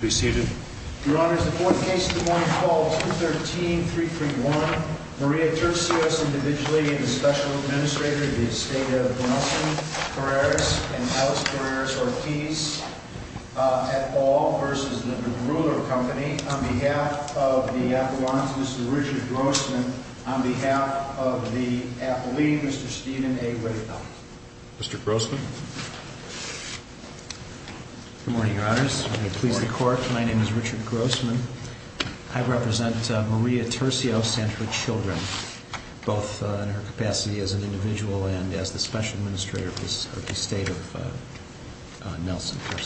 on behalf of the Appellant, Mr. Richard Grossman, on behalf of the Appellee, Mr. Stephen A. Whittle. Mr. Grossman. Good morning, Your Honors. I'm going to please the Court. My name is Richard Grossman. I represent Maria Tercio of Sanford Children, both in her capacity as an individual and as the Special Administrator of the State of Nelson, New Jersey.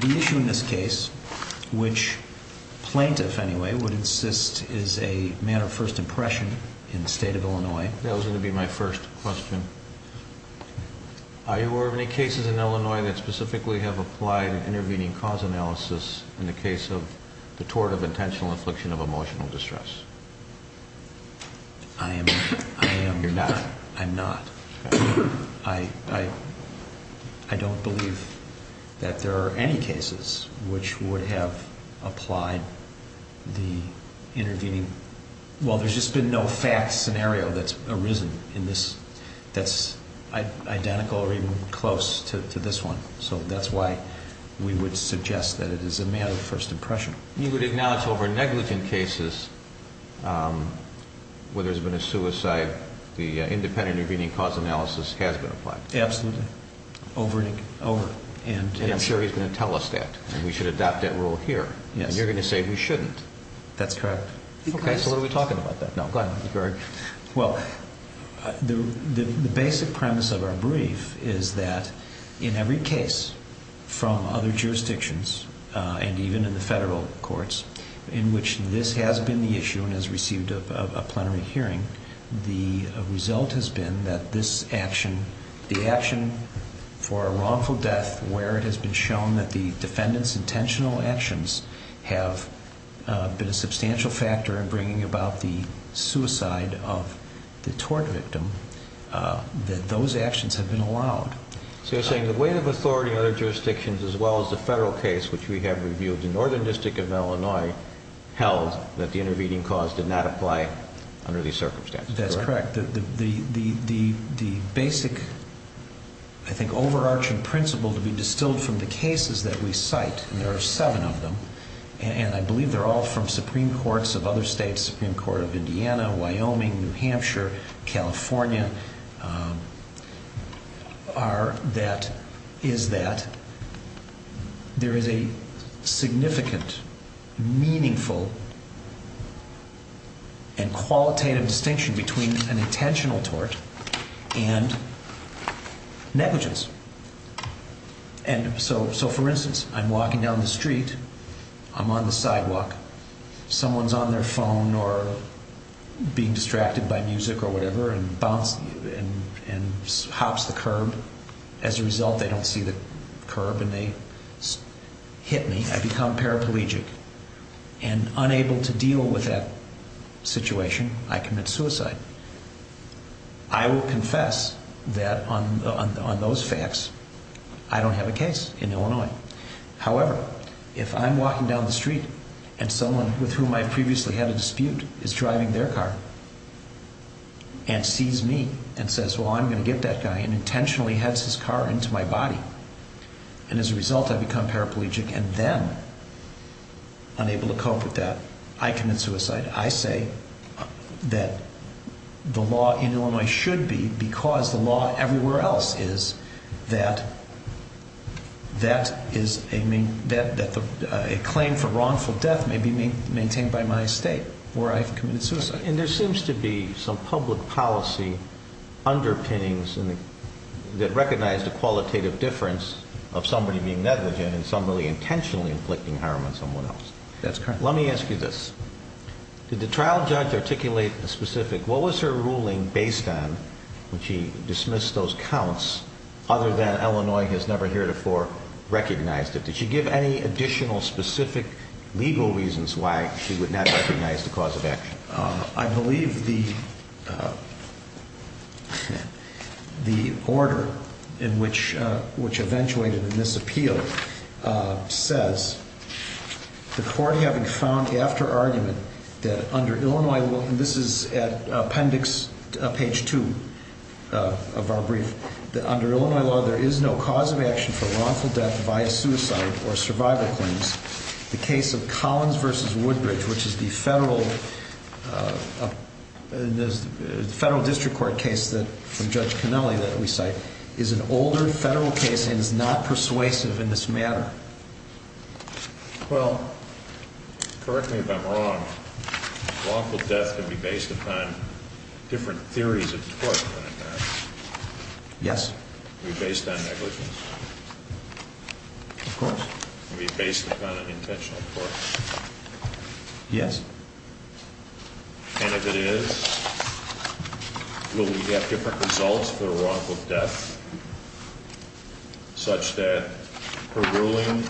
The issue in this case, which plaintiff anyway would insist is a matter of first impression in the State of Illinois. That was going to be my first question. Are there any cases in Illinois that specifically have applied an intervening cause analysis in the case of the tort of intentional affliction of emotional distress? I am not. I'm not. I don't believe that there are any cases which would have applied the intervening. Well, there's just been no fact scenario that's arisen in this that's identical or even close to this one. So that's why we would suggest that it is a matter of first impression. You would acknowledge over negligent cases where there's been a suicide, the independent intervening cause analysis has been applied? Absolutely. Over and over. And I'm sure he's going to tell us that, and we should adopt that rule here. Yes. And you're going to say we shouldn't. That's correct. Okay, so what are we talking about then? No, go ahead. Well, the basic premise of our brief is that in every case from other jurisdictions and even in the federal courts in which this has been the issue and has received a plenary hearing, the result has been that this action, the action for a wrongful death where it has been shown that the defendant's intentional actions have been a substantial factor in bringing about the suicide of the tort victim, that those actions have been allowed. So you're saying the weight of authority in other jurisdictions as well as the federal case, which we have reviewed in Northern District of Illinois, held that the intervening cause did not apply under these circumstances, correct? That's correct. The basic, I think, overarching principle to be distilled from the cases that we cite, and there are seven of them, and I believe they're all from Supreme Courts of other states, Supreme Court of Indiana, Wyoming, New Hampshire, California, are that there is a significant, meaningful, and qualitative distinction between an intentional tort and negligence. And so, for instance, I'm walking down the street, I'm on the sidewalk, someone's on their phone or being distracted by music or whatever and hops the curb. As a result, they don't see the curb and they hit me. I become paraplegic and unable to deal with that situation, I commit suicide. I will confess that on those facts, I don't have a case in Illinois. However, if I'm walking down the street and someone with whom I previously had a dispute is driving their car and sees me and says, well, I'm going to get that guy and intentionally heads his car into my body. And as a result, I become paraplegic and then, unable to cope with that, I commit suicide. I say that the law in Illinois should be, because the law everywhere else is, that a claim for wrongful death may be maintained by my estate, or I've committed suicide. And there seems to be some public policy underpinnings that recognize the qualitative difference of somebody being negligent and somebody intentionally inflicting harm on someone else. That's correct. Let me ask you this. Did the trial judge articulate a specific, what was her ruling based on when she dismissed those counts other than Illinois has never heretofore recognized it? Did she give any additional specific legal reasons why she would not recognize the cause of action? I believe the order which eventuated in this appeal says, the court having found after argument that under Illinois law, and this is at appendix, page two of our brief, that under Illinois law, there is no cause of action for wrongful death via suicide or survival claims. The case of Collins v. Woodbridge, which is the federal district court case from Judge Canelli that we cite, is an older federal case and is not persuasive in this matter. Well, correct me if I'm wrong, wrongful death can be based upon different theories of the court, can it not? Yes. Can it be based on negligence? Of course. Can it be based upon an intentional force? Yes. And if it is, will we have different results for wrongful death such that her ruling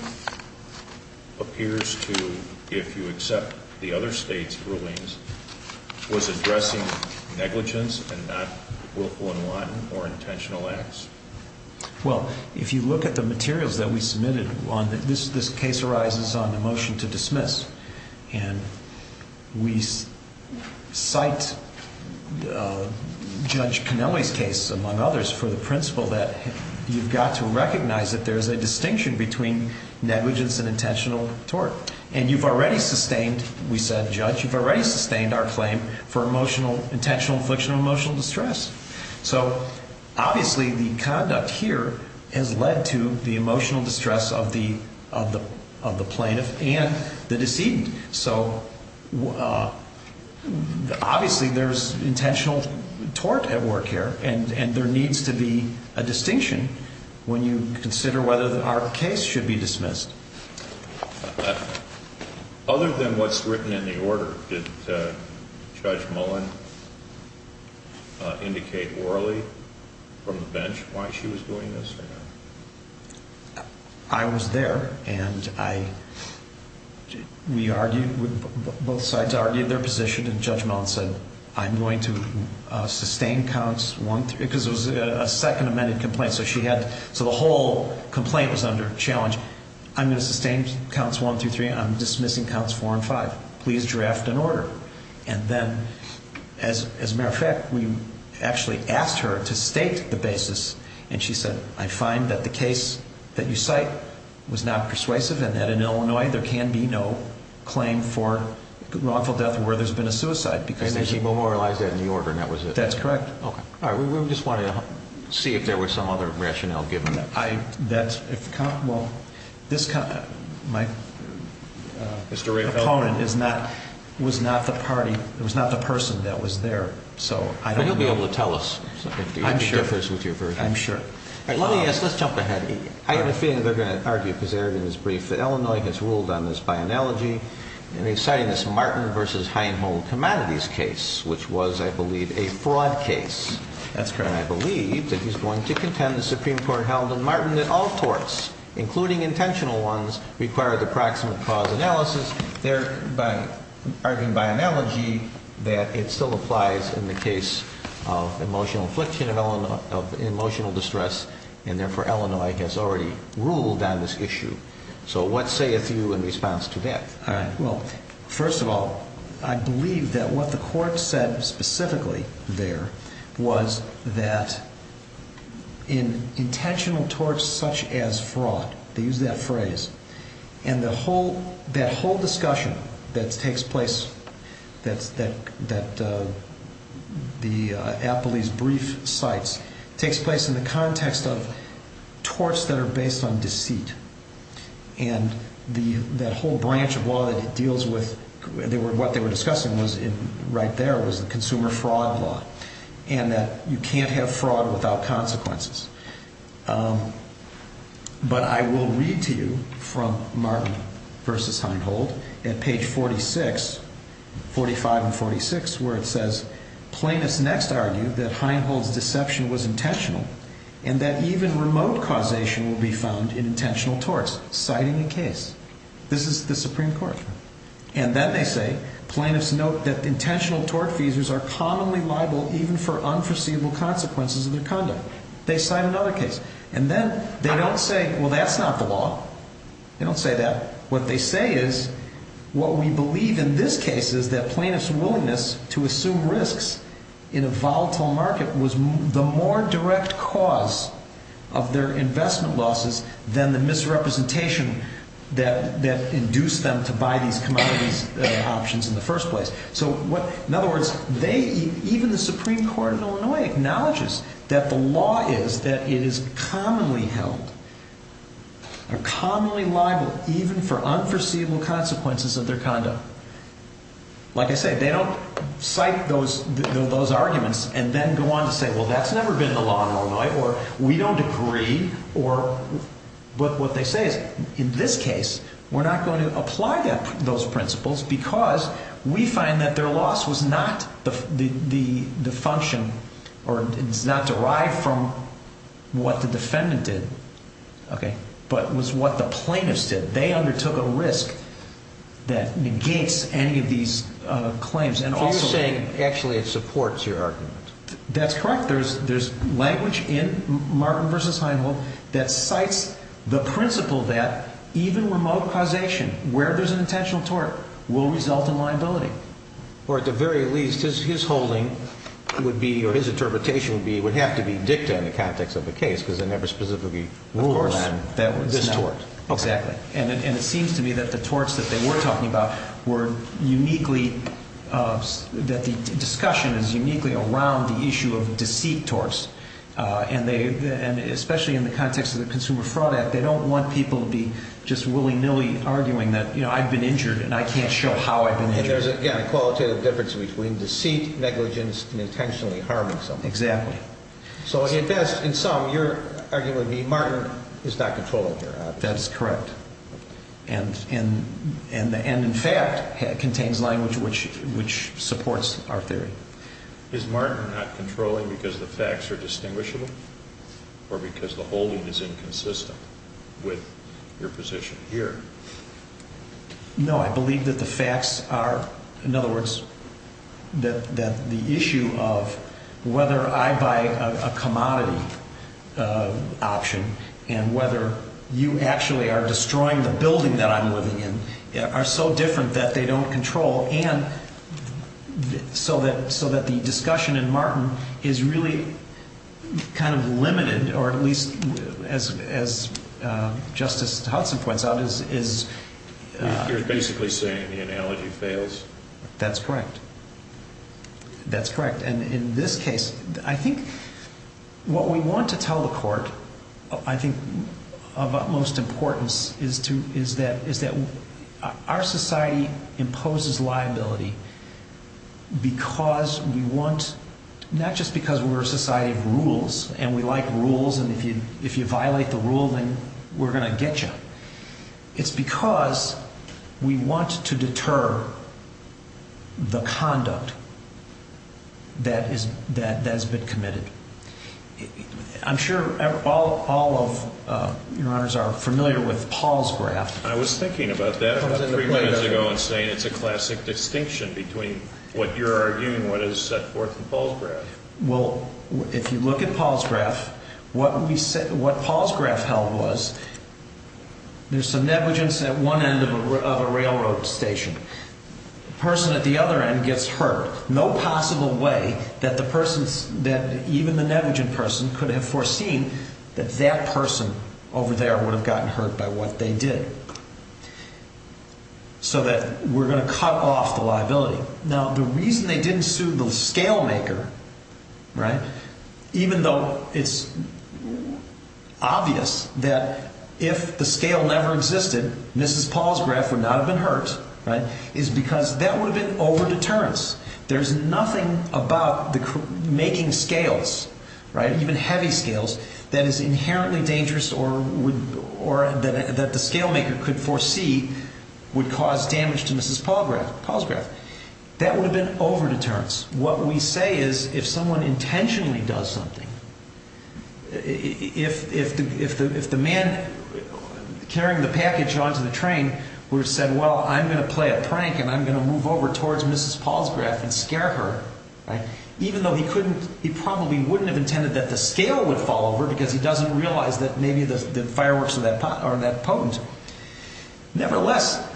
appears to, if you accept the other states' rulings, was addressing negligence and not willful and wanton or intentional acts? Well, if you look at the materials that we submitted, this case arises on a motion to dismiss. And we cite Judge Canelli's case, among others, for the principle that you've got to recognize that there is a distinction between negligence and intentional tort. And you've already sustained, we said, Judge, you've already sustained our claim for intentional infliction of emotional distress. So, obviously, the conduct here has led to the emotional distress of the plaintiff and the decedent. So, obviously, there's intentional tort at work here, and there needs to be a distinction when you consider whether our case should be dismissed. Other than what's written in the order, did Judge Mullen indicate orally from the bench why she was doing this or not? I was there, and I, we argued, both sides argued their position, and Judge Mullen said, I'm going to sustain counts one through, because it was a second amended complaint. So she had, so the whole complaint was under challenge. I'm going to sustain counts one through three. I'm dismissing counts four and five. Please draft an order. And then, as a matter of fact, we actually asked her to state the basis, and she said, I find that the case that you cite was not persuasive, and that in Illinois, there can be no claim for wrongful death where there's been a suicide. And then she memorialized that in the order, and that was it. That's correct. Okay. All right, we just wanted to see if there was some other rationale given. I, that, if, well, this, my opponent is not, was not the party, was not the person that was there, so I don't know. Well, he'll be able to tell us. I'm sure. I'm sure. All right, let me ask, let's jump ahead. I have a feeling they're going to argue, because they already did this brief, that Illinois has ruled on this by analogy, and they cited this Martin v. Heinholz Commodities case, which was, I believe, a fraud case. That's correct. And I believe that he's going to contend the Supreme Court held that Martin, that all torts, including intentional ones, require the proximate cause analysis, thereby arguing by analogy that it still applies in the case of emotional affliction, of emotional distress, and therefore Illinois has already ruled on this issue. So what sayeth you in response to that? All right, well, first of all, I believe that what the court said specifically there was that in intentional torts such as fraud, they use that phrase, and the whole, that whole discussion that takes place, that's, that, that the appellee's brief cites, takes place in the context of torts that are based on deceit. And the, that whole branch of law that it deals with, they were, what they were discussing was in, right there, was the consumer fraud law, and that you can't have fraud without consequences. But I will read to you from Martin v. Heinhold at page 46, 45 and 46, where it says, Plaintiffs next argue that Heinhold's deception was intentional, and that even remote causation will be found in intentional torts, citing the case. This is the Supreme Court. And then they say, Plaintiffs note that intentional tort feasors are commonly liable even for unforeseeable consequences of their conduct. They cite another case. And then they don't say, well, that's not the law. They don't say that. What they say is, what we believe in this case is that plaintiffs' willingness to assume risks in a volatile market was the more direct cause of their investment losses than the misrepresentation that, that induced them to buy these commodities options in the first place. So what, in other words, they, even the Supreme Court in Illinois acknowledges that the law is that it is commonly held, or commonly liable, even for unforeseeable consequences of their conduct. Like I said, they don't cite those, those arguments and then go on to say, well, that's never been the law in Illinois, or we don't agree, or, but what they say is, in this case, we're not going to apply that, those principles, because we find that their loss was not the, the, the function, or it's not derived from what the defendant did. Okay. But was what the plaintiffs did. They undertook a risk that negates any of these claims. So you're saying, actually, it supports your argument. That's correct. There's, there's language in Martin v. Heinle that cites the principle that even remote causation, where there's an intentional tort, will result in liability. Or at the very least, his, his holding would be, or his interpretation would be, would have to be dicta in the context of the case, because they never specifically ruled around this tort. Of course. Exactly. And it, and it seems to me that the torts that they were talking about were uniquely, that the discussion is uniquely around the issue of deceit torts. And they, and especially in the context of the Consumer Fraud Act, they don't want people to be just willy-nilly arguing that, you know, I've been injured and I can't show how I've been injured. And there's, again, a qualitative difference between deceit, negligence, and intentionally harming someone. Exactly. So if that's, in sum, you're arguing that Martin is not controlling here. That's correct. And, and, and in fact contains language which, which supports our theory. Is Martin not controlling because the facts are distinguishable? Or because the holding is inconsistent with your position here? No, I believe that the facts are, in other words, that, that the issue of whether I buy a commodity option, and whether you actually are destroying the building that I'm living in, are so different that they don't control. And so that, so that the discussion in Martin is really kind of limited, or at least as, as Justice Hudson points out, is, is. You're basically saying the analogy fails. That's correct. That's correct. And in this case, I think what we want to tell the court, I think of utmost importance, is to, is that, is that our society imposes liability because we want, not just because we're a society of rules, and we like rules, and if you, if you violate the rule, then we're going to get you. It's because we want to deter the conduct that is, that has been committed. I'm sure all, all of your honors are familiar with Paul's graph. I was thinking about that three minutes ago and saying it's a classic distinction between what you're arguing, what is set forth in Paul's graph. Well, if you look at Paul's graph, what we say, what Paul's graph held was there's some negligence at one end of a railroad station. The person at the other end gets hurt. No possible way that the person's, that even the negligent person could have foreseen that that person over there would have gotten hurt by what they did. So that we're going to cut off the liability. Now, the reason they didn't sue the scale maker, right, even though it's obvious that if the scale never existed, Mrs. Paul's graph would not have been hurt, right, is because that would have been over deterrence. There's nothing about the making scales, right, even heavy scales, that is inherently dangerous or would, or that the scale maker could foresee would cause damage to Mrs. Paul's graph. That would have been over deterrence. What we say is if someone intentionally does something, if the man carrying the package onto the train were to say, well, I'm going to play a prank and I'm going to move over towards Mrs. Paul's graph and scare her, right, even though he couldn't, he probably wouldn't have intended that the scale would fall over because he doesn't realize that maybe the fireworks are that potent. Nevertheless,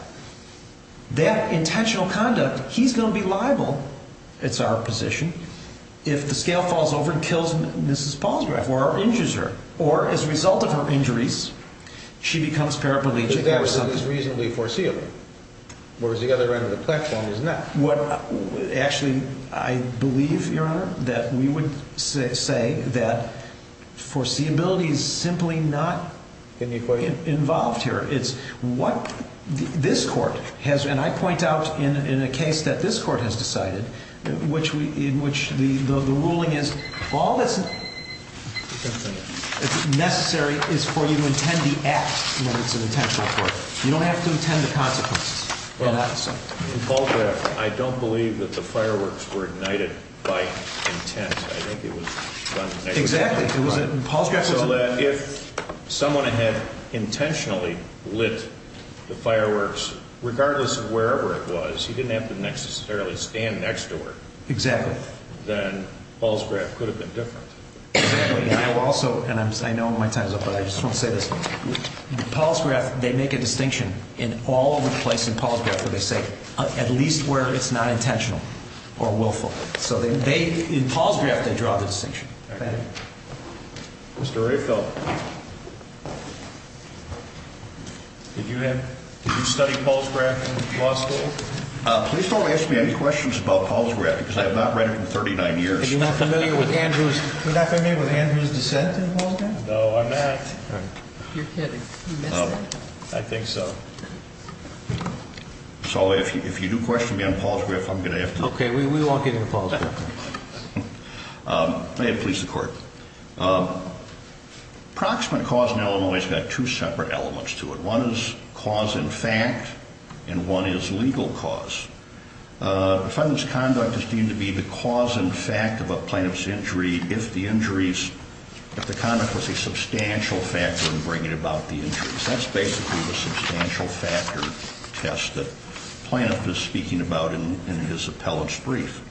that intentional conduct, he's going to be liable, it's our position, if the scale falls over and kills Mrs. Paul's graph or injures her or as a result of her injuries, she becomes paraplegic or something. If that was reasonably foreseeable, whereas the other end of the platform is not. Actually, I believe, Your Honor, that we would say that foreseeability is simply not involved here. It's what this court has, and I point out in a case that this court has decided, in which the ruling is all that's necessary is for you to intend the act when it's an intentional act. You don't have to intend the consequences. Well, in Paul's graph, I don't believe that the fireworks were ignited by intent. I think it was done. Exactly. It wasn't in Paul's graph. So that if someone had intentionally lit the fireworks, regardless of wherever it was, he didn't have to necessarily stand next to her. Exactly. Then Paul's graph could have been different. I will also, and I know my time is up, but I just want to say this. Paul's graph, they make a distinction in all of the places in Paul's graph where they say at least where it's not intentional or willful. So in Paul's graph, they draw the distinction. Mr. Rehfeld, did you study Paul's graph in law school? Please don't ask me any questions about Paul's graph because I have not read it in 39 years. You're not familiar with Andrew's dissent in Paul's graph? No, I'm not. You're kidding. You missed it? I think so. So if you do question me on Paul's graph, I'm going to have to. Okay, we won't get into Paul's graph. May it please the Court. Approximate cause in Illinois has got two separate elements to it. One is cause in fact and one is legal cause. Defendant's conduct is deemed to be the cause in fact of a plaintiff's injury if the injuries, if the conduct was a substantial factor in bringing about the injuries. That's basically the substantial factor test that the plaintiff is speaking about in his appellate's brief.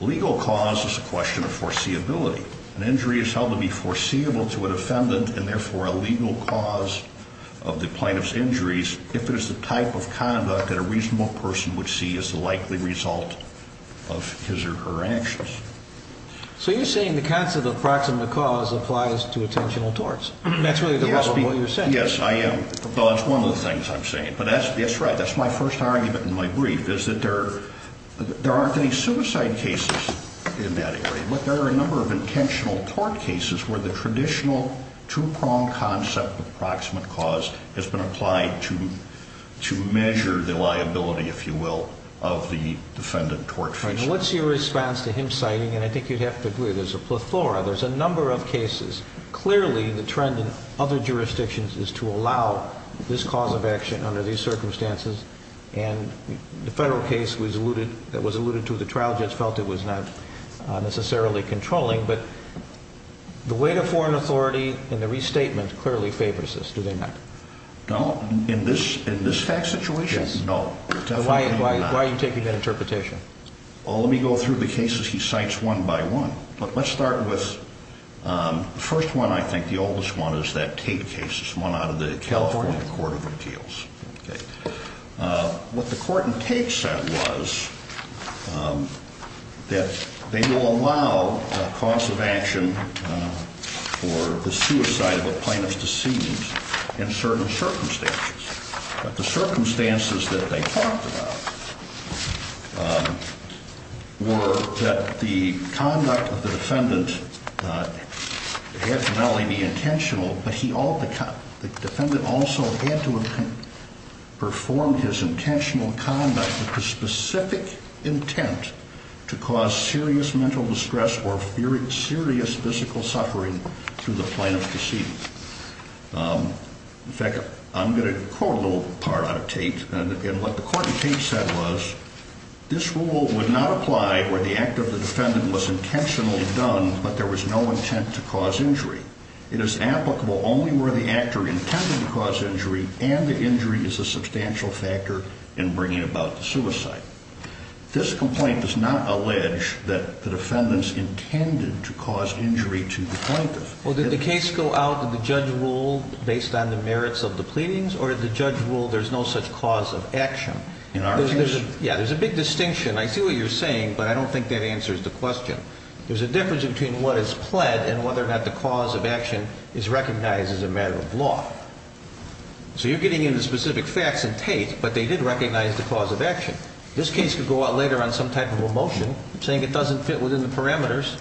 Legal cause is a question of foreseeability. An injury is held to be foreseeable to a defendant and therefore a legal cause of the plaintiff's injuries if it is the type of conduct that a reasonable person would see as the likely result of his or her actions. So you're saying the concept of approximate cause applies to attentional torts. That's really the problem with what you're saying. Yes, I am. Well, that's one of the things I'm saying. But that's right. That's my first argument in my brief is that there aren't any suicide cases in that area. But there are a number of intentional tort cases where the traditional two-pronged concept of approximate cause has been applied to measure the liability, if you will, of the defendant tort feasible. What's your response to him citing, and I think you'd have to agree, there's a plethora, there's a number of cases. Clearly the trend in other jurisdictions is to allow this cause of action under these circumstances. And the federal case that was alluded to, the trial judge felt it was not necessarily controlling. But the weight of foreign authority in the restatement clearly favors this. Do they not? No. In this situation? No. Why are you taking that interpretation? Well, let me go through the cases he cites one by one. But let's start with the first one, I think, the oldest one, is that Tate case. It's one out of the California Court of Appeals. What the court in Tate said was that they will allow a cause of action for the suicide of a plaintiff's deceased in certain circumstances. But the circumstances that they talked about were that the conduct of the defendant had to not only be intentional, but the defendant also had to perform his intentional conduct with the specific intent to cause serious mental distress or serious physical suffering to the plaintiff's deceased. In fact, I'm going to quote a little part out of Tate. And what the court in Tate said was, this rule would not apply where the act of the defendant was intentionally done, but there was no intent to cause injury. It is applicable only where the actor intended to cause injury and the injury is a substantial factor in bringing about the suicide. This complaint does not allege that the defendants intended to cause injury to the plaintiff. Well, did the case go out, did the judge rule based on the merits of the pleadings, or did the judge rule there's no such cause of action? Yeah, there's a big distinction. I see what you're saying, but I don't think that answers the question. There's a difference between what is pled and whether or not the cause of action is recognized as a matter of law. So you're getting into specific facts in Tate, but they did recognize the cause of action. This case could go out later on some type of a motion saying it doesn't fit within the parameters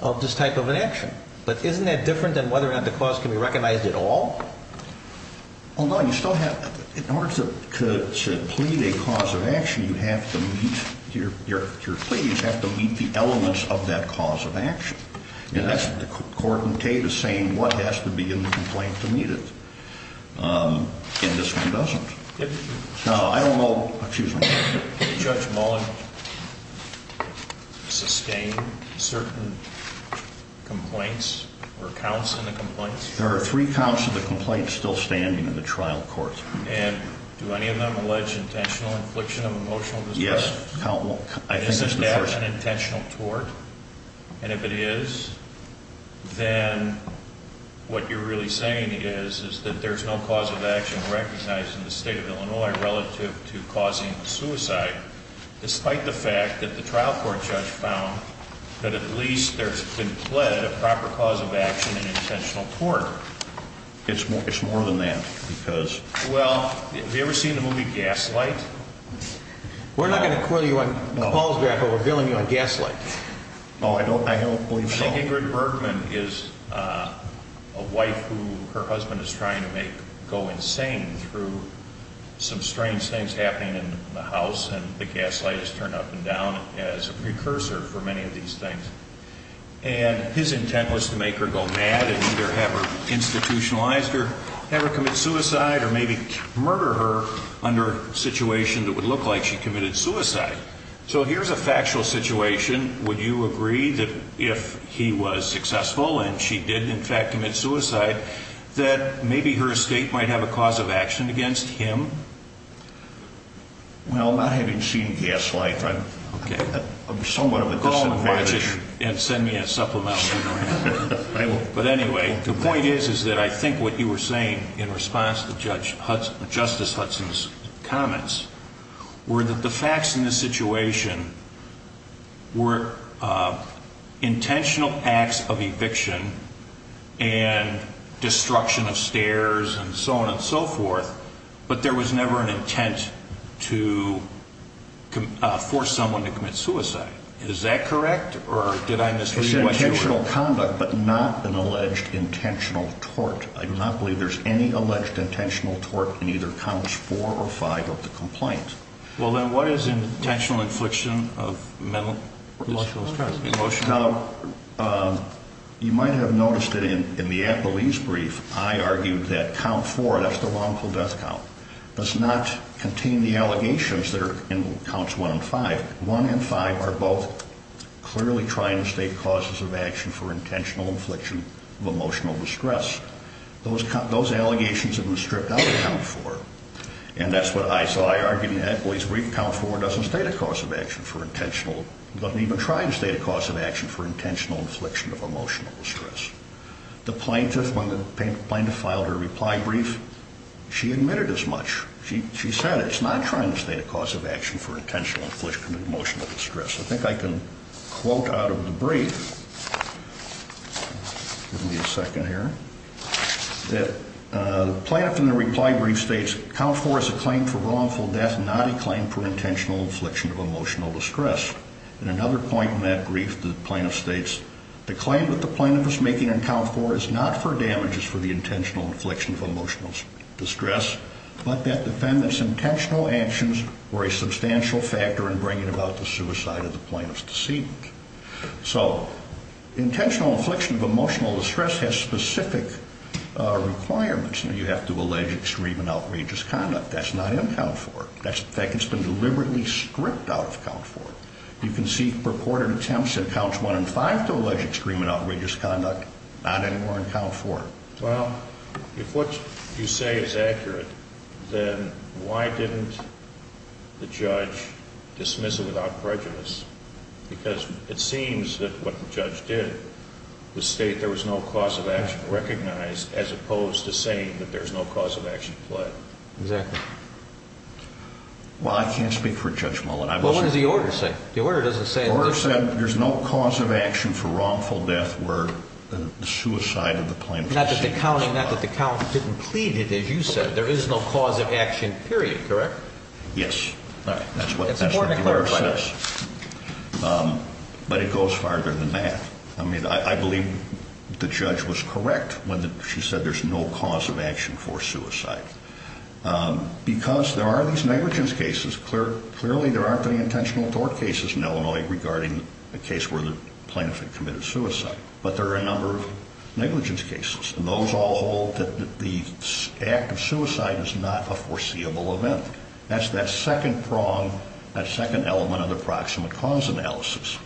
of this type of an action. But isn't that different than whether or not the cause can be recognized at all? Well, no, you still have, in order to plead a cause of action, you have to meet, your pleas have to meet the elements of that cause of action. And that's what the court in Tate is saying what has to be in the complaint to meet it. And this one doesn't. No, I don't know, excuse me. Did Judge Mullin sustain certain complaints or counts in the complaints? There are three counts of the complaints still standing in the trial court. And do any of them allege intentional infliction of emotional distress? Yes. Isn't that an intentional tort? And if it is, then what you're really saying is that there's no cause of action recognized in the state of Illinois relative to causing suicide, despite the fact that the trial court judge found that at least there's been pled a proper cause of action in intentional tort. It's more than that because... Well, have you ever seen the movie Gaslight? We're not going to call you on Paul's behalf, but we're billing you on Gaslight. Oh, I don't believe so. Ingrid Bergman is a wife who her husband is trying to make go insane through some strange things happening in the house, and the gaslight is turned up and down as a precursor for many of these things. And his intent was to make her go mad and either have her institutionalized or have her commit suicide or maybe murder her under a situation that would look like she committed suicide. So here's a factual situation. Would you agree that if he was successful and she did, in fact, commit suicide, that maybe her escape might have a cause of action against him? Well, not having seen Gaslight, I'm somewhat of a disadvantage. Go and watch it and send me a supplemental email. But anyway, the point is that I think what you were saying in response to Justice Hudson's comments were that the facts in this situation were intentional acts of eviction and destruction of stairs and so on and so forth, but there was never an intent to force someone to commit suicide. Is that correct, or did I misread what you were saying? Intentional conduct, but not an alleged intentional tort. I do not believe there's any alleged intentional tort in either Counts 4 or 5 of the complaints. Well, then what is intentional infliction of mental or emotional distress? Now, you might have noticed that in the Appellee's brief, I argued that Count 4, that's the wrongful death count, does not contain the allegations that are in Counts 1 and 5. 1 and 5 are both clearly trying to state causes of action for intentional infliction of emotional distress. Those allegations in the stripped-out Count 4, and that's what I saw, I argued in the Appellee's brief, Count 4 doesn't state a cause of action for intentional, doesn't even try to state a cause of action for intentional infliction of emotional distress. The plaintiff, when the plaintiff filed her reply brief, she admitted as much. She said it's not trying to state a cause of action for intentional infliction of emotional distress. I think I can quote out of the brief, give me a second here, that the plaintiff in the reply brief states, Count 4 is a claim for wrongful death, not a claim for intentional infliction of emotional distress. In another point in that brief, the plaintiff states, the claim that the plaintiff is making in Count 4 is not for damages for the intentional infliction of emotional distress, but that the defendant's intentional actions were a substantial factor in bringing about the suicide of the plaintiff's decedent. So intentional infliction of emotional distress has specific requirements. You have to allege extreme and outrageous conduct. That's not in Count 4. In fact, it's been deliberately stripped out of Count 4. You can see purported attempts in Counts 1 and 5 to allege extreme and outrageous conduct, not anywhere in Count 4. Well, if what you say is accurate, then why didn't the judge dismiss it without prejudice? Because it seems that what the judge did was state there was no cause of action recognized, as opposed to saying that there's no cause of action pled. Exactly. Well, I can't speak for Judge Mullin. Well, what does the order say? The order doesn't say that there's no cause of action for wrongful death were the suicide of the plaintiff. Not that the count didn't plead it, as you said. There is no cause of action, period. Correct? Yes. All right. That's what the order says. That's important to clarify. But it goes farther than that. I mean, I believe the judge was correct when she said there's no cause of action for suicide. Because there are these negligence cases. Clearly, there aren't any intentional tort cases in Illinois regarding a case where the plaintiff had committed suicide. But there are a number of negligence cases. And those all hold that the act of suicide is not a foreseeable event. That's that second prong, that second element of the proximate cause analysis.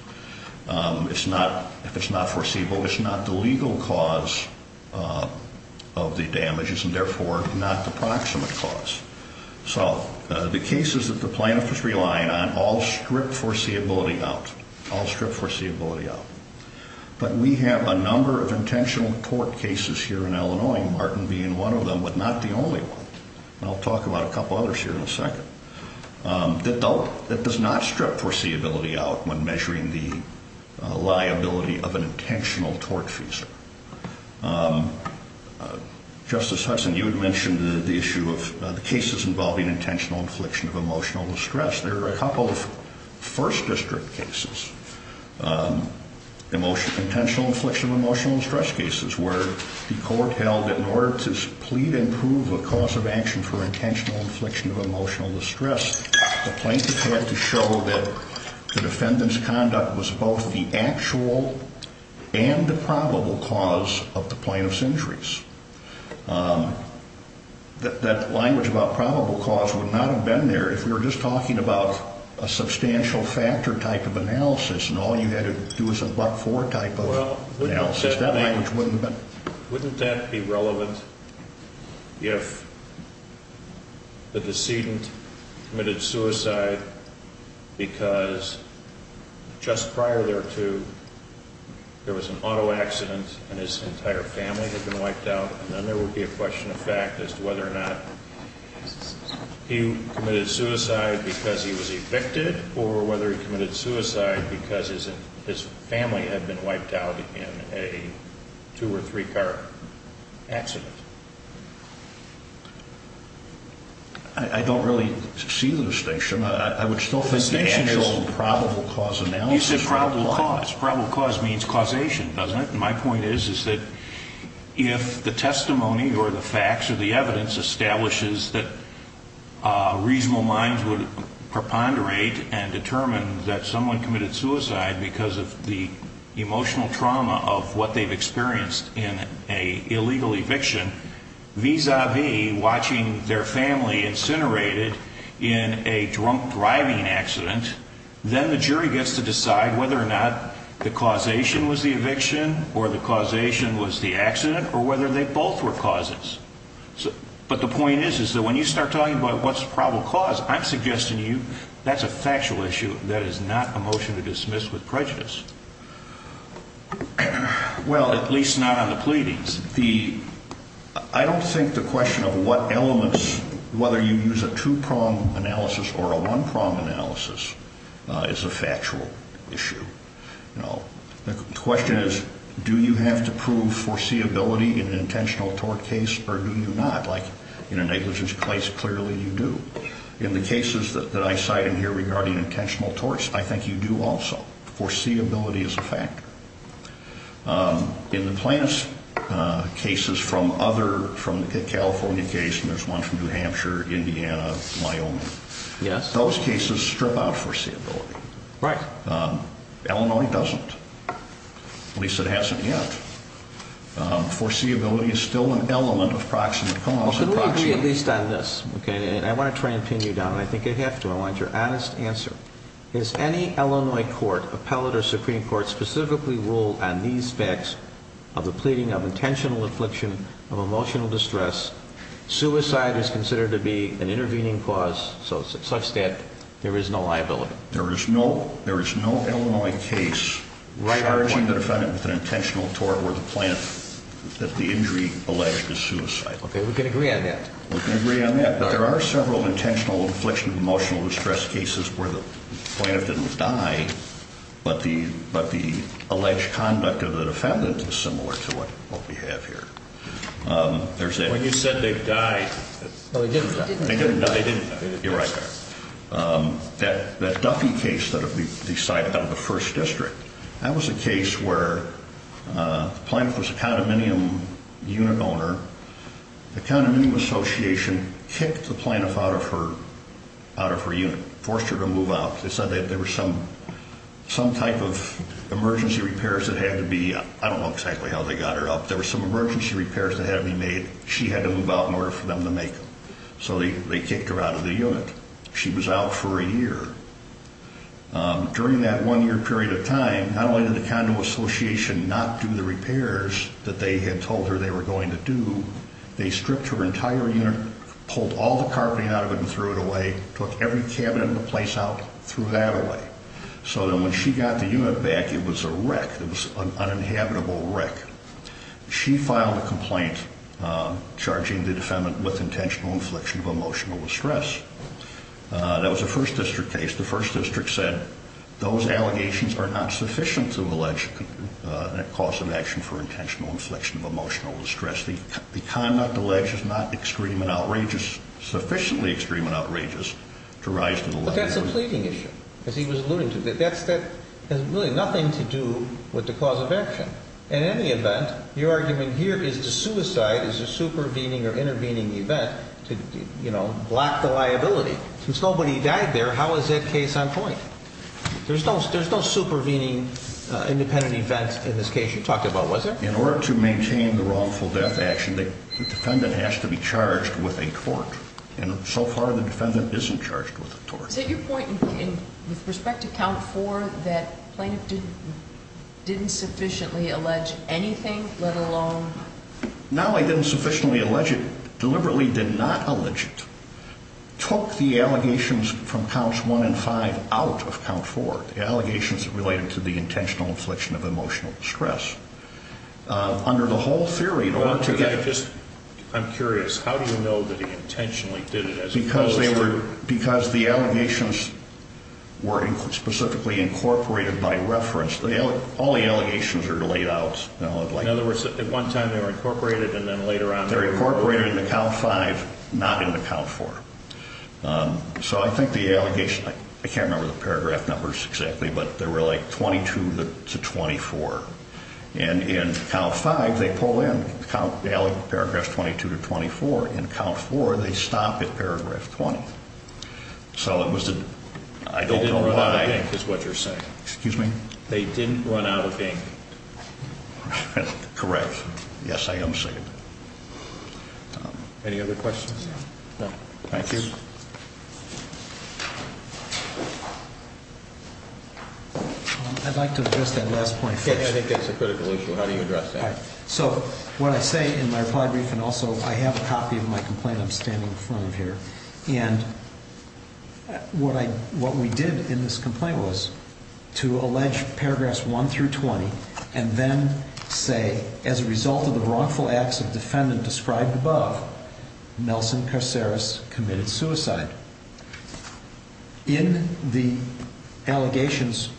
If it's not foreseeable, it's not the legal cause of the damages and, therefore, not the proximate cause. So the cases that the plaintiff is relying on all strip foreseeability out. All strip foreseeability out. But we have a number of intentional tort cases here in Illinois, Martin being one of them, but not the only one. And I'll talk about a couple others here in a second. That does not strip foreseeability out when measuring the liability of an intentional tort fee. Justice Hudson, you had mentioned the issue of the cases involving intentional infliction of emotional distress. There are a couple of first district cases, intentional infliction of emotional distress cases, where the court held that in order to plead and prove a cause of action for intentional infliction of emotional distress, the plaintiff had to show that the defendant's conduct was both the actual and the probable cause of the plaintiff's injuries. That language about probable cause would not have been there if we were just talking about a substantial factor type of analysis and all you had to do was a but-for type of analysis. Wouldn't that be relevant if the decedent committed suicide because just prior thereto, there was an auto accident and his entire family had been wiped out, and then there would be a question of fact as to whether or not he committed suicide because he was evicted or whether he committed suicide because his family had been wiped out in a two- or three-car accident? I don't really see the distinction. The distinction is probable cause analysis. You said probable cause. Probable cause means causation, doesn't it? My point is that if the testimony or the facts or the evidence establishes that reasonable minds would preponderate and determine that someone committed suicide because of the emotional trauma of what they've experienced in an illegal eviction, vis-a-vis watching their family incinerated in a drunk driving accident, then the jury gets to decide whether or not the causation was the eviction or the causation was the accident or whether they both were causes. But the point is that when you start talking about what's probable cause, I'm suggesting to you that's a factual issue that is not a motion to dismiss with prejudice. Well, at least not on the pleadings. I don't think the question of what elements, whether you use a two-prong analysis or a one-prong analysis, is a factual issue. The question is do you have to prove foreseeability in an intentional tort case or do you not? Like in a negligence case, clearly you do. In the cases that I cite in here regarding intentional torts, I think you do also. Foreseeability is a factor. In the plaintiff's cases from other, from the California case, and there's one from New Hampshire, Indiana, Wyoming, those cases strip out foreseeability. Right. Illinois doesn't. At least it hasn't yet. Foreseeability is still an element of proximate cause. Can we agree at least on this? I want to try and pin you down, and I think I have to. I want your honest answer. Has any Illinois court, appellate or Supreme Court, specifically ruled on these facts of the pleading of intentional infliction of emotional distress? Suicide is considered to be an intervening cause such that there is no liability. There is no Illinois case charging the defendant with an intentional tort where the plaintiff, that the injury alleged is suicide. Okay, we can agree on that. But there are several intentional infliction of emotional distress cases where the plaintiff didn't die, but the alleged conduct of the defendant is similar to what we have here. When you said they died. They didn't die. They didn't die. You're right. That Duffy case that we cite out of the first district, that was a case where the plaintiff was a condominium unit owner. The condominium association kicked the plaintiff out of her unit, forced her to move out. They said that there were some type of emergency repairs that had to be, I don't know exactly how they got her up. There were some emergency repairs that had to be made. She had to move out in order for them to make them. So they kicked her out of the unit. She was out for a year. During that one-year period of time, not only did the condo association not do the repairs that they had told her they were going to do, they stripped her entire unit, pulled all the carpeting out of it and threw it away, took every cabinet in the place out, threw that away. So then when she got the unit back, it was a wreck. It was an uninhabitable wreck. She filed a complaint charging the defendant with intentional infliction of emotional distress. That was a First District case. The First District said those allegations are not sufficient to allege a cause of action for intentional infliction of emotional distress. The conduct alleged is not extreme and outrageous, sufficiently extreme and outrageous to rise to the level. But that's a pleading issue, as he was alluding to. That has really nothing to do with the cause of action. In any event, your argument here is that suicide is a supervening or intervening event to block the liability. Since nobody died there, how is that case on point? There's no supervening independent event in this case you talked about, was there? In order to maintain the wrongful death action, the defendant has to be charged with a tort. And so far, the defendant isn't charged with a tort. Is it your point with respect to count four that plaintiff didn't sufficiently allege anything, let alone? Not only didn't sufficiently allege it, deliberately did not allege it. Took the allegations from counts one and five out of count four, the allegations related to the intentional infliction of emotional distress. Under the whole theory, in order to get... I'm curious, how do you know that he intentionally did it as opposed to... Because the allegations were specifically incorporated by reference. All the allegations are laid out. In other words, at one time they were incorporated and then later on... They're incorporated into count five, not into count four. So I think the allegation... I can't remember the paragraph numbers exactly, but they were like 22 to 24. And in count five, they pull in count... paragraph 22 to 24. In count four, they stop at paragraph 20. So it was... I don't know why... They didn't run out of ink, is what you're saying. Excuse me? They didn't run out of ink. Correct. Yes, I am saying that. Any other questions? No. Thank you. I'd like to address that last point first. I think that's a critical issue. How do you address that? So what I say in my reply brief and also I have a copy of my complaint I'm standing in front of here. And what we did in this complaint was to allege paragraphs one through 20 and then say, as a result of the wrongful acts of defendant described above, Nelson Caceres committed suicide. In the allegations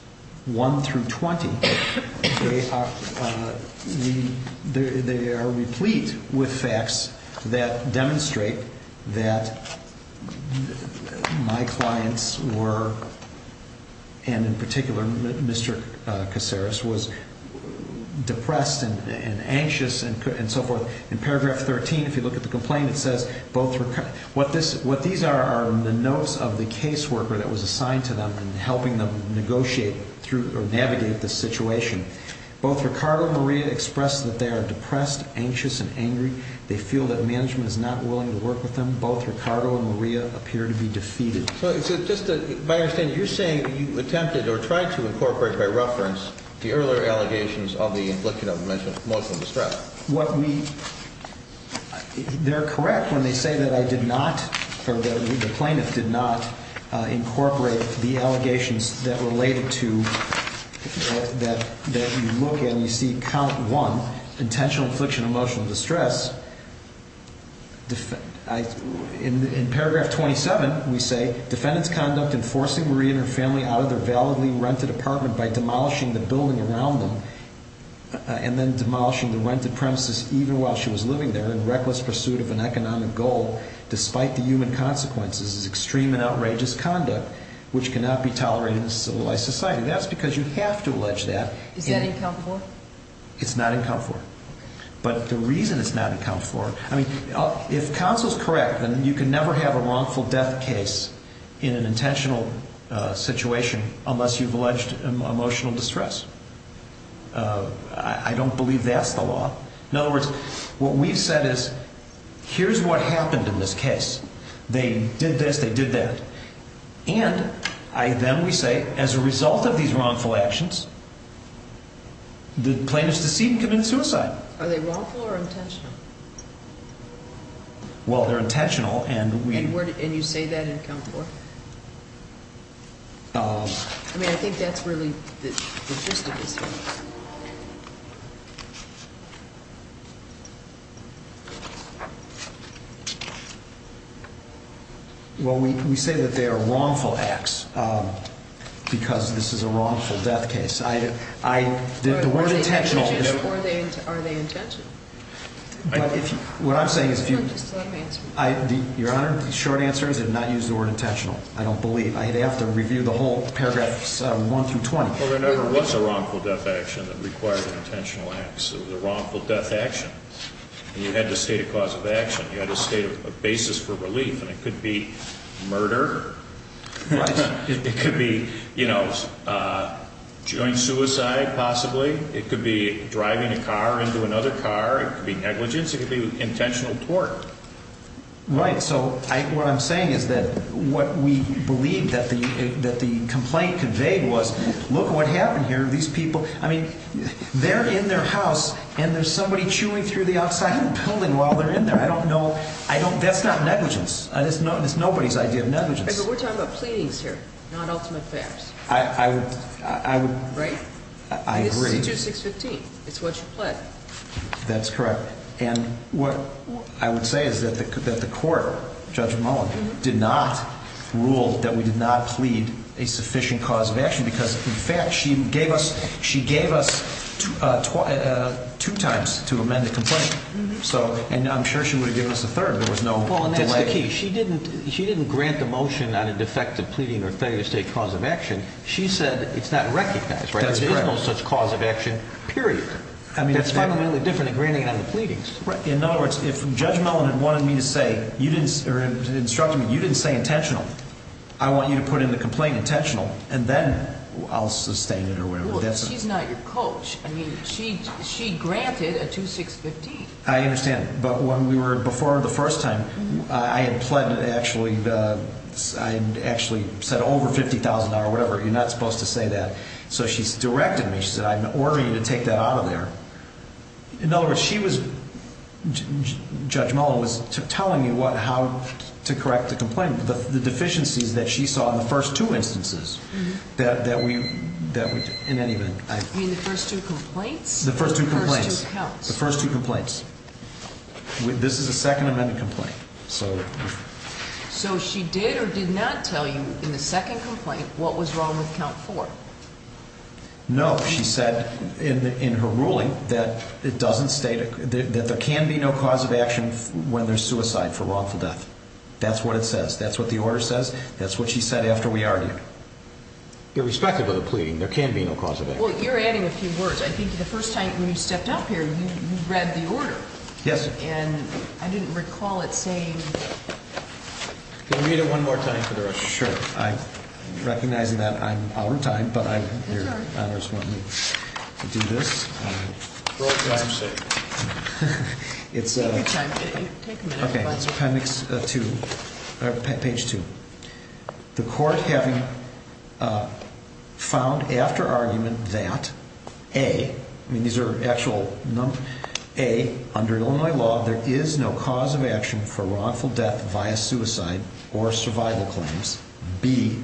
one through 20, they are replete with facts that demonstrate that my clients were... and anxious and so forth. In paragraph 13, if you look at the complaint, it says both... What these are are the notes of the caseworker that was assigned to them and helping them negotiate through or navigate the situation. Both Ricardo and Maria expressed that they are depressed, anxious, and angry. They feel that management is not willing to work with them. Both Ricardo and Maria appear to be defeated. So just by understanding, you're saying you attempted or tried to incorporate by reference the earlier allegations of the infliction of emotional distress. What we... They're correct when they say that I did not or the plaintiff did not incorporate the allegations that related to... that you look at and you see count one, intentional infliction of emotional distress. In paragraph 27, we say, defendant's conduct in forcing Maria and her family out of their validly rented apartment by demolishing the building around them and then demolishing the rented premises even while she was living there in reckless pursuit of an economic goal, despite the human consequences, is extreme and outrageous conduct which cannot be tolerated in a civilized society. That's because you have to allege that. Is that incomparable? It's not incomparable. But the reason it's not incomparable... I mean, if counsel's correct, then you can never have a wrongful death case in an intentional situation unless you've alleged emotional distress. I don't believe that's the law. In other words, what we've said is, here's what happened in this case. They did this, they did that. And then we say, as a result of these wrongful actions, the plaintiff's deceit and committed suicide. Are they wrongful or intentional? Well, they're intentional and we... And you say that in count four? I mean, I think that's really the gist of this one. Well, we say that they are wrongful acts because this is a wrongful death case. The word intentional is... Are they intentional? What I'm saying is if you... No, just let me answer. Your Honor, the short answer is I did not use the word intentional. I don't believe. I'd have to review the whole paragraphs one through 20. Well, there never was a wrongful death action that required an intentional act. It was a wrongful death action. And you had to state a cause of action. You had to state a basis for relief. And it could be murder. Right. It could be, you know, joint suicide, possibly. It could be driving a car into another car. It could be negligence. It could be intentional tort. Right. So what I'm saying is that what we believe that the complaint conveyed was, look what happened here. These people, I mean, they're in their house, and there's somebody chewing through the outside of the building while they're in there. I don't know. That's not negligence. It's nobody's idea of negligence. But we're talking about pleadings here, not ultimate facts. I would... Right? I agree. This is 2615. It's what you plead. That's correct. And what I would say is that the court, Judge Mullen, did not rule that we did not plead a sufficient cause of action because, in fact, she gave us two times to amend the complaint. And I'm sure she would have given us a third. There was no delay. Well, and that's the key. She didn't grant the motion on a defective pleading or failure to state cause of action. She said it's not recognized. That's correct. There is no such cause of action, period. That's fundamentally different than granting it on the pleadings. Right. In other words, if Judge Mullen had wanted me to say, or instructed me, you didn't say intentional, I want you to put in the complaint intentional, and then I'll sustain it or whatever. She's not your coach. I mean, she granted a 2615. I understand. But when we were before the first time, I had pled actually, I had actually said over $50,000 or whatever. You're not supposed to say that. So she's directed me. She said, I'm ordering you to take that out of there. In other words, she was, Judge Mullen was telling you how to correct the complaint. The deficiencies that she saw in the first two instances that we, in any event. You mean the first two complaints? The first two complaints. The first two counts. The first two complaints. This is a Second Amendment complaint. So she did or did not tell you in the second complaint what was wrong with count four? No. She said in her ruling that it doesn't state, that there can be no cause of action when there's suicide for wrongful death. That's what it says. That's what the order says. That's what she said after we argued. Irrespective of the pleading, there can be no cause of action. Well, you're adding a few words. I think the first time when you stepped up here, you read the order. Yes, sir. And I didn't recall it saying. Can you read it one more time for the rest of us? Sure. I'm recognizing that I'm out of time, but your Honor's wanting me to do this. Roll tape. It's. Take a minute. Okay. It's appendix two, page two. The court having found after argument that, A, I mean these are actual numbers, A, under Illinois law, there is no cause of action for wrongful death via suicide or survival claims. B,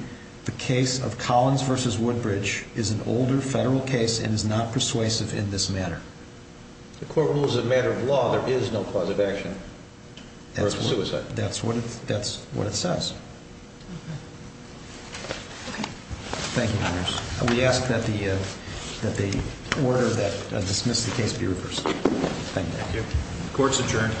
the case of Collins versus Woodbridge is an older federal case and is not persuasive in this matter. The court rules that as a matter of law, there is no cause of action for suicide. That's what it says. Okay. Thank you, Your Honors. We ask that the order that dismissed the case be reversed. Thank you. Court's adjourned.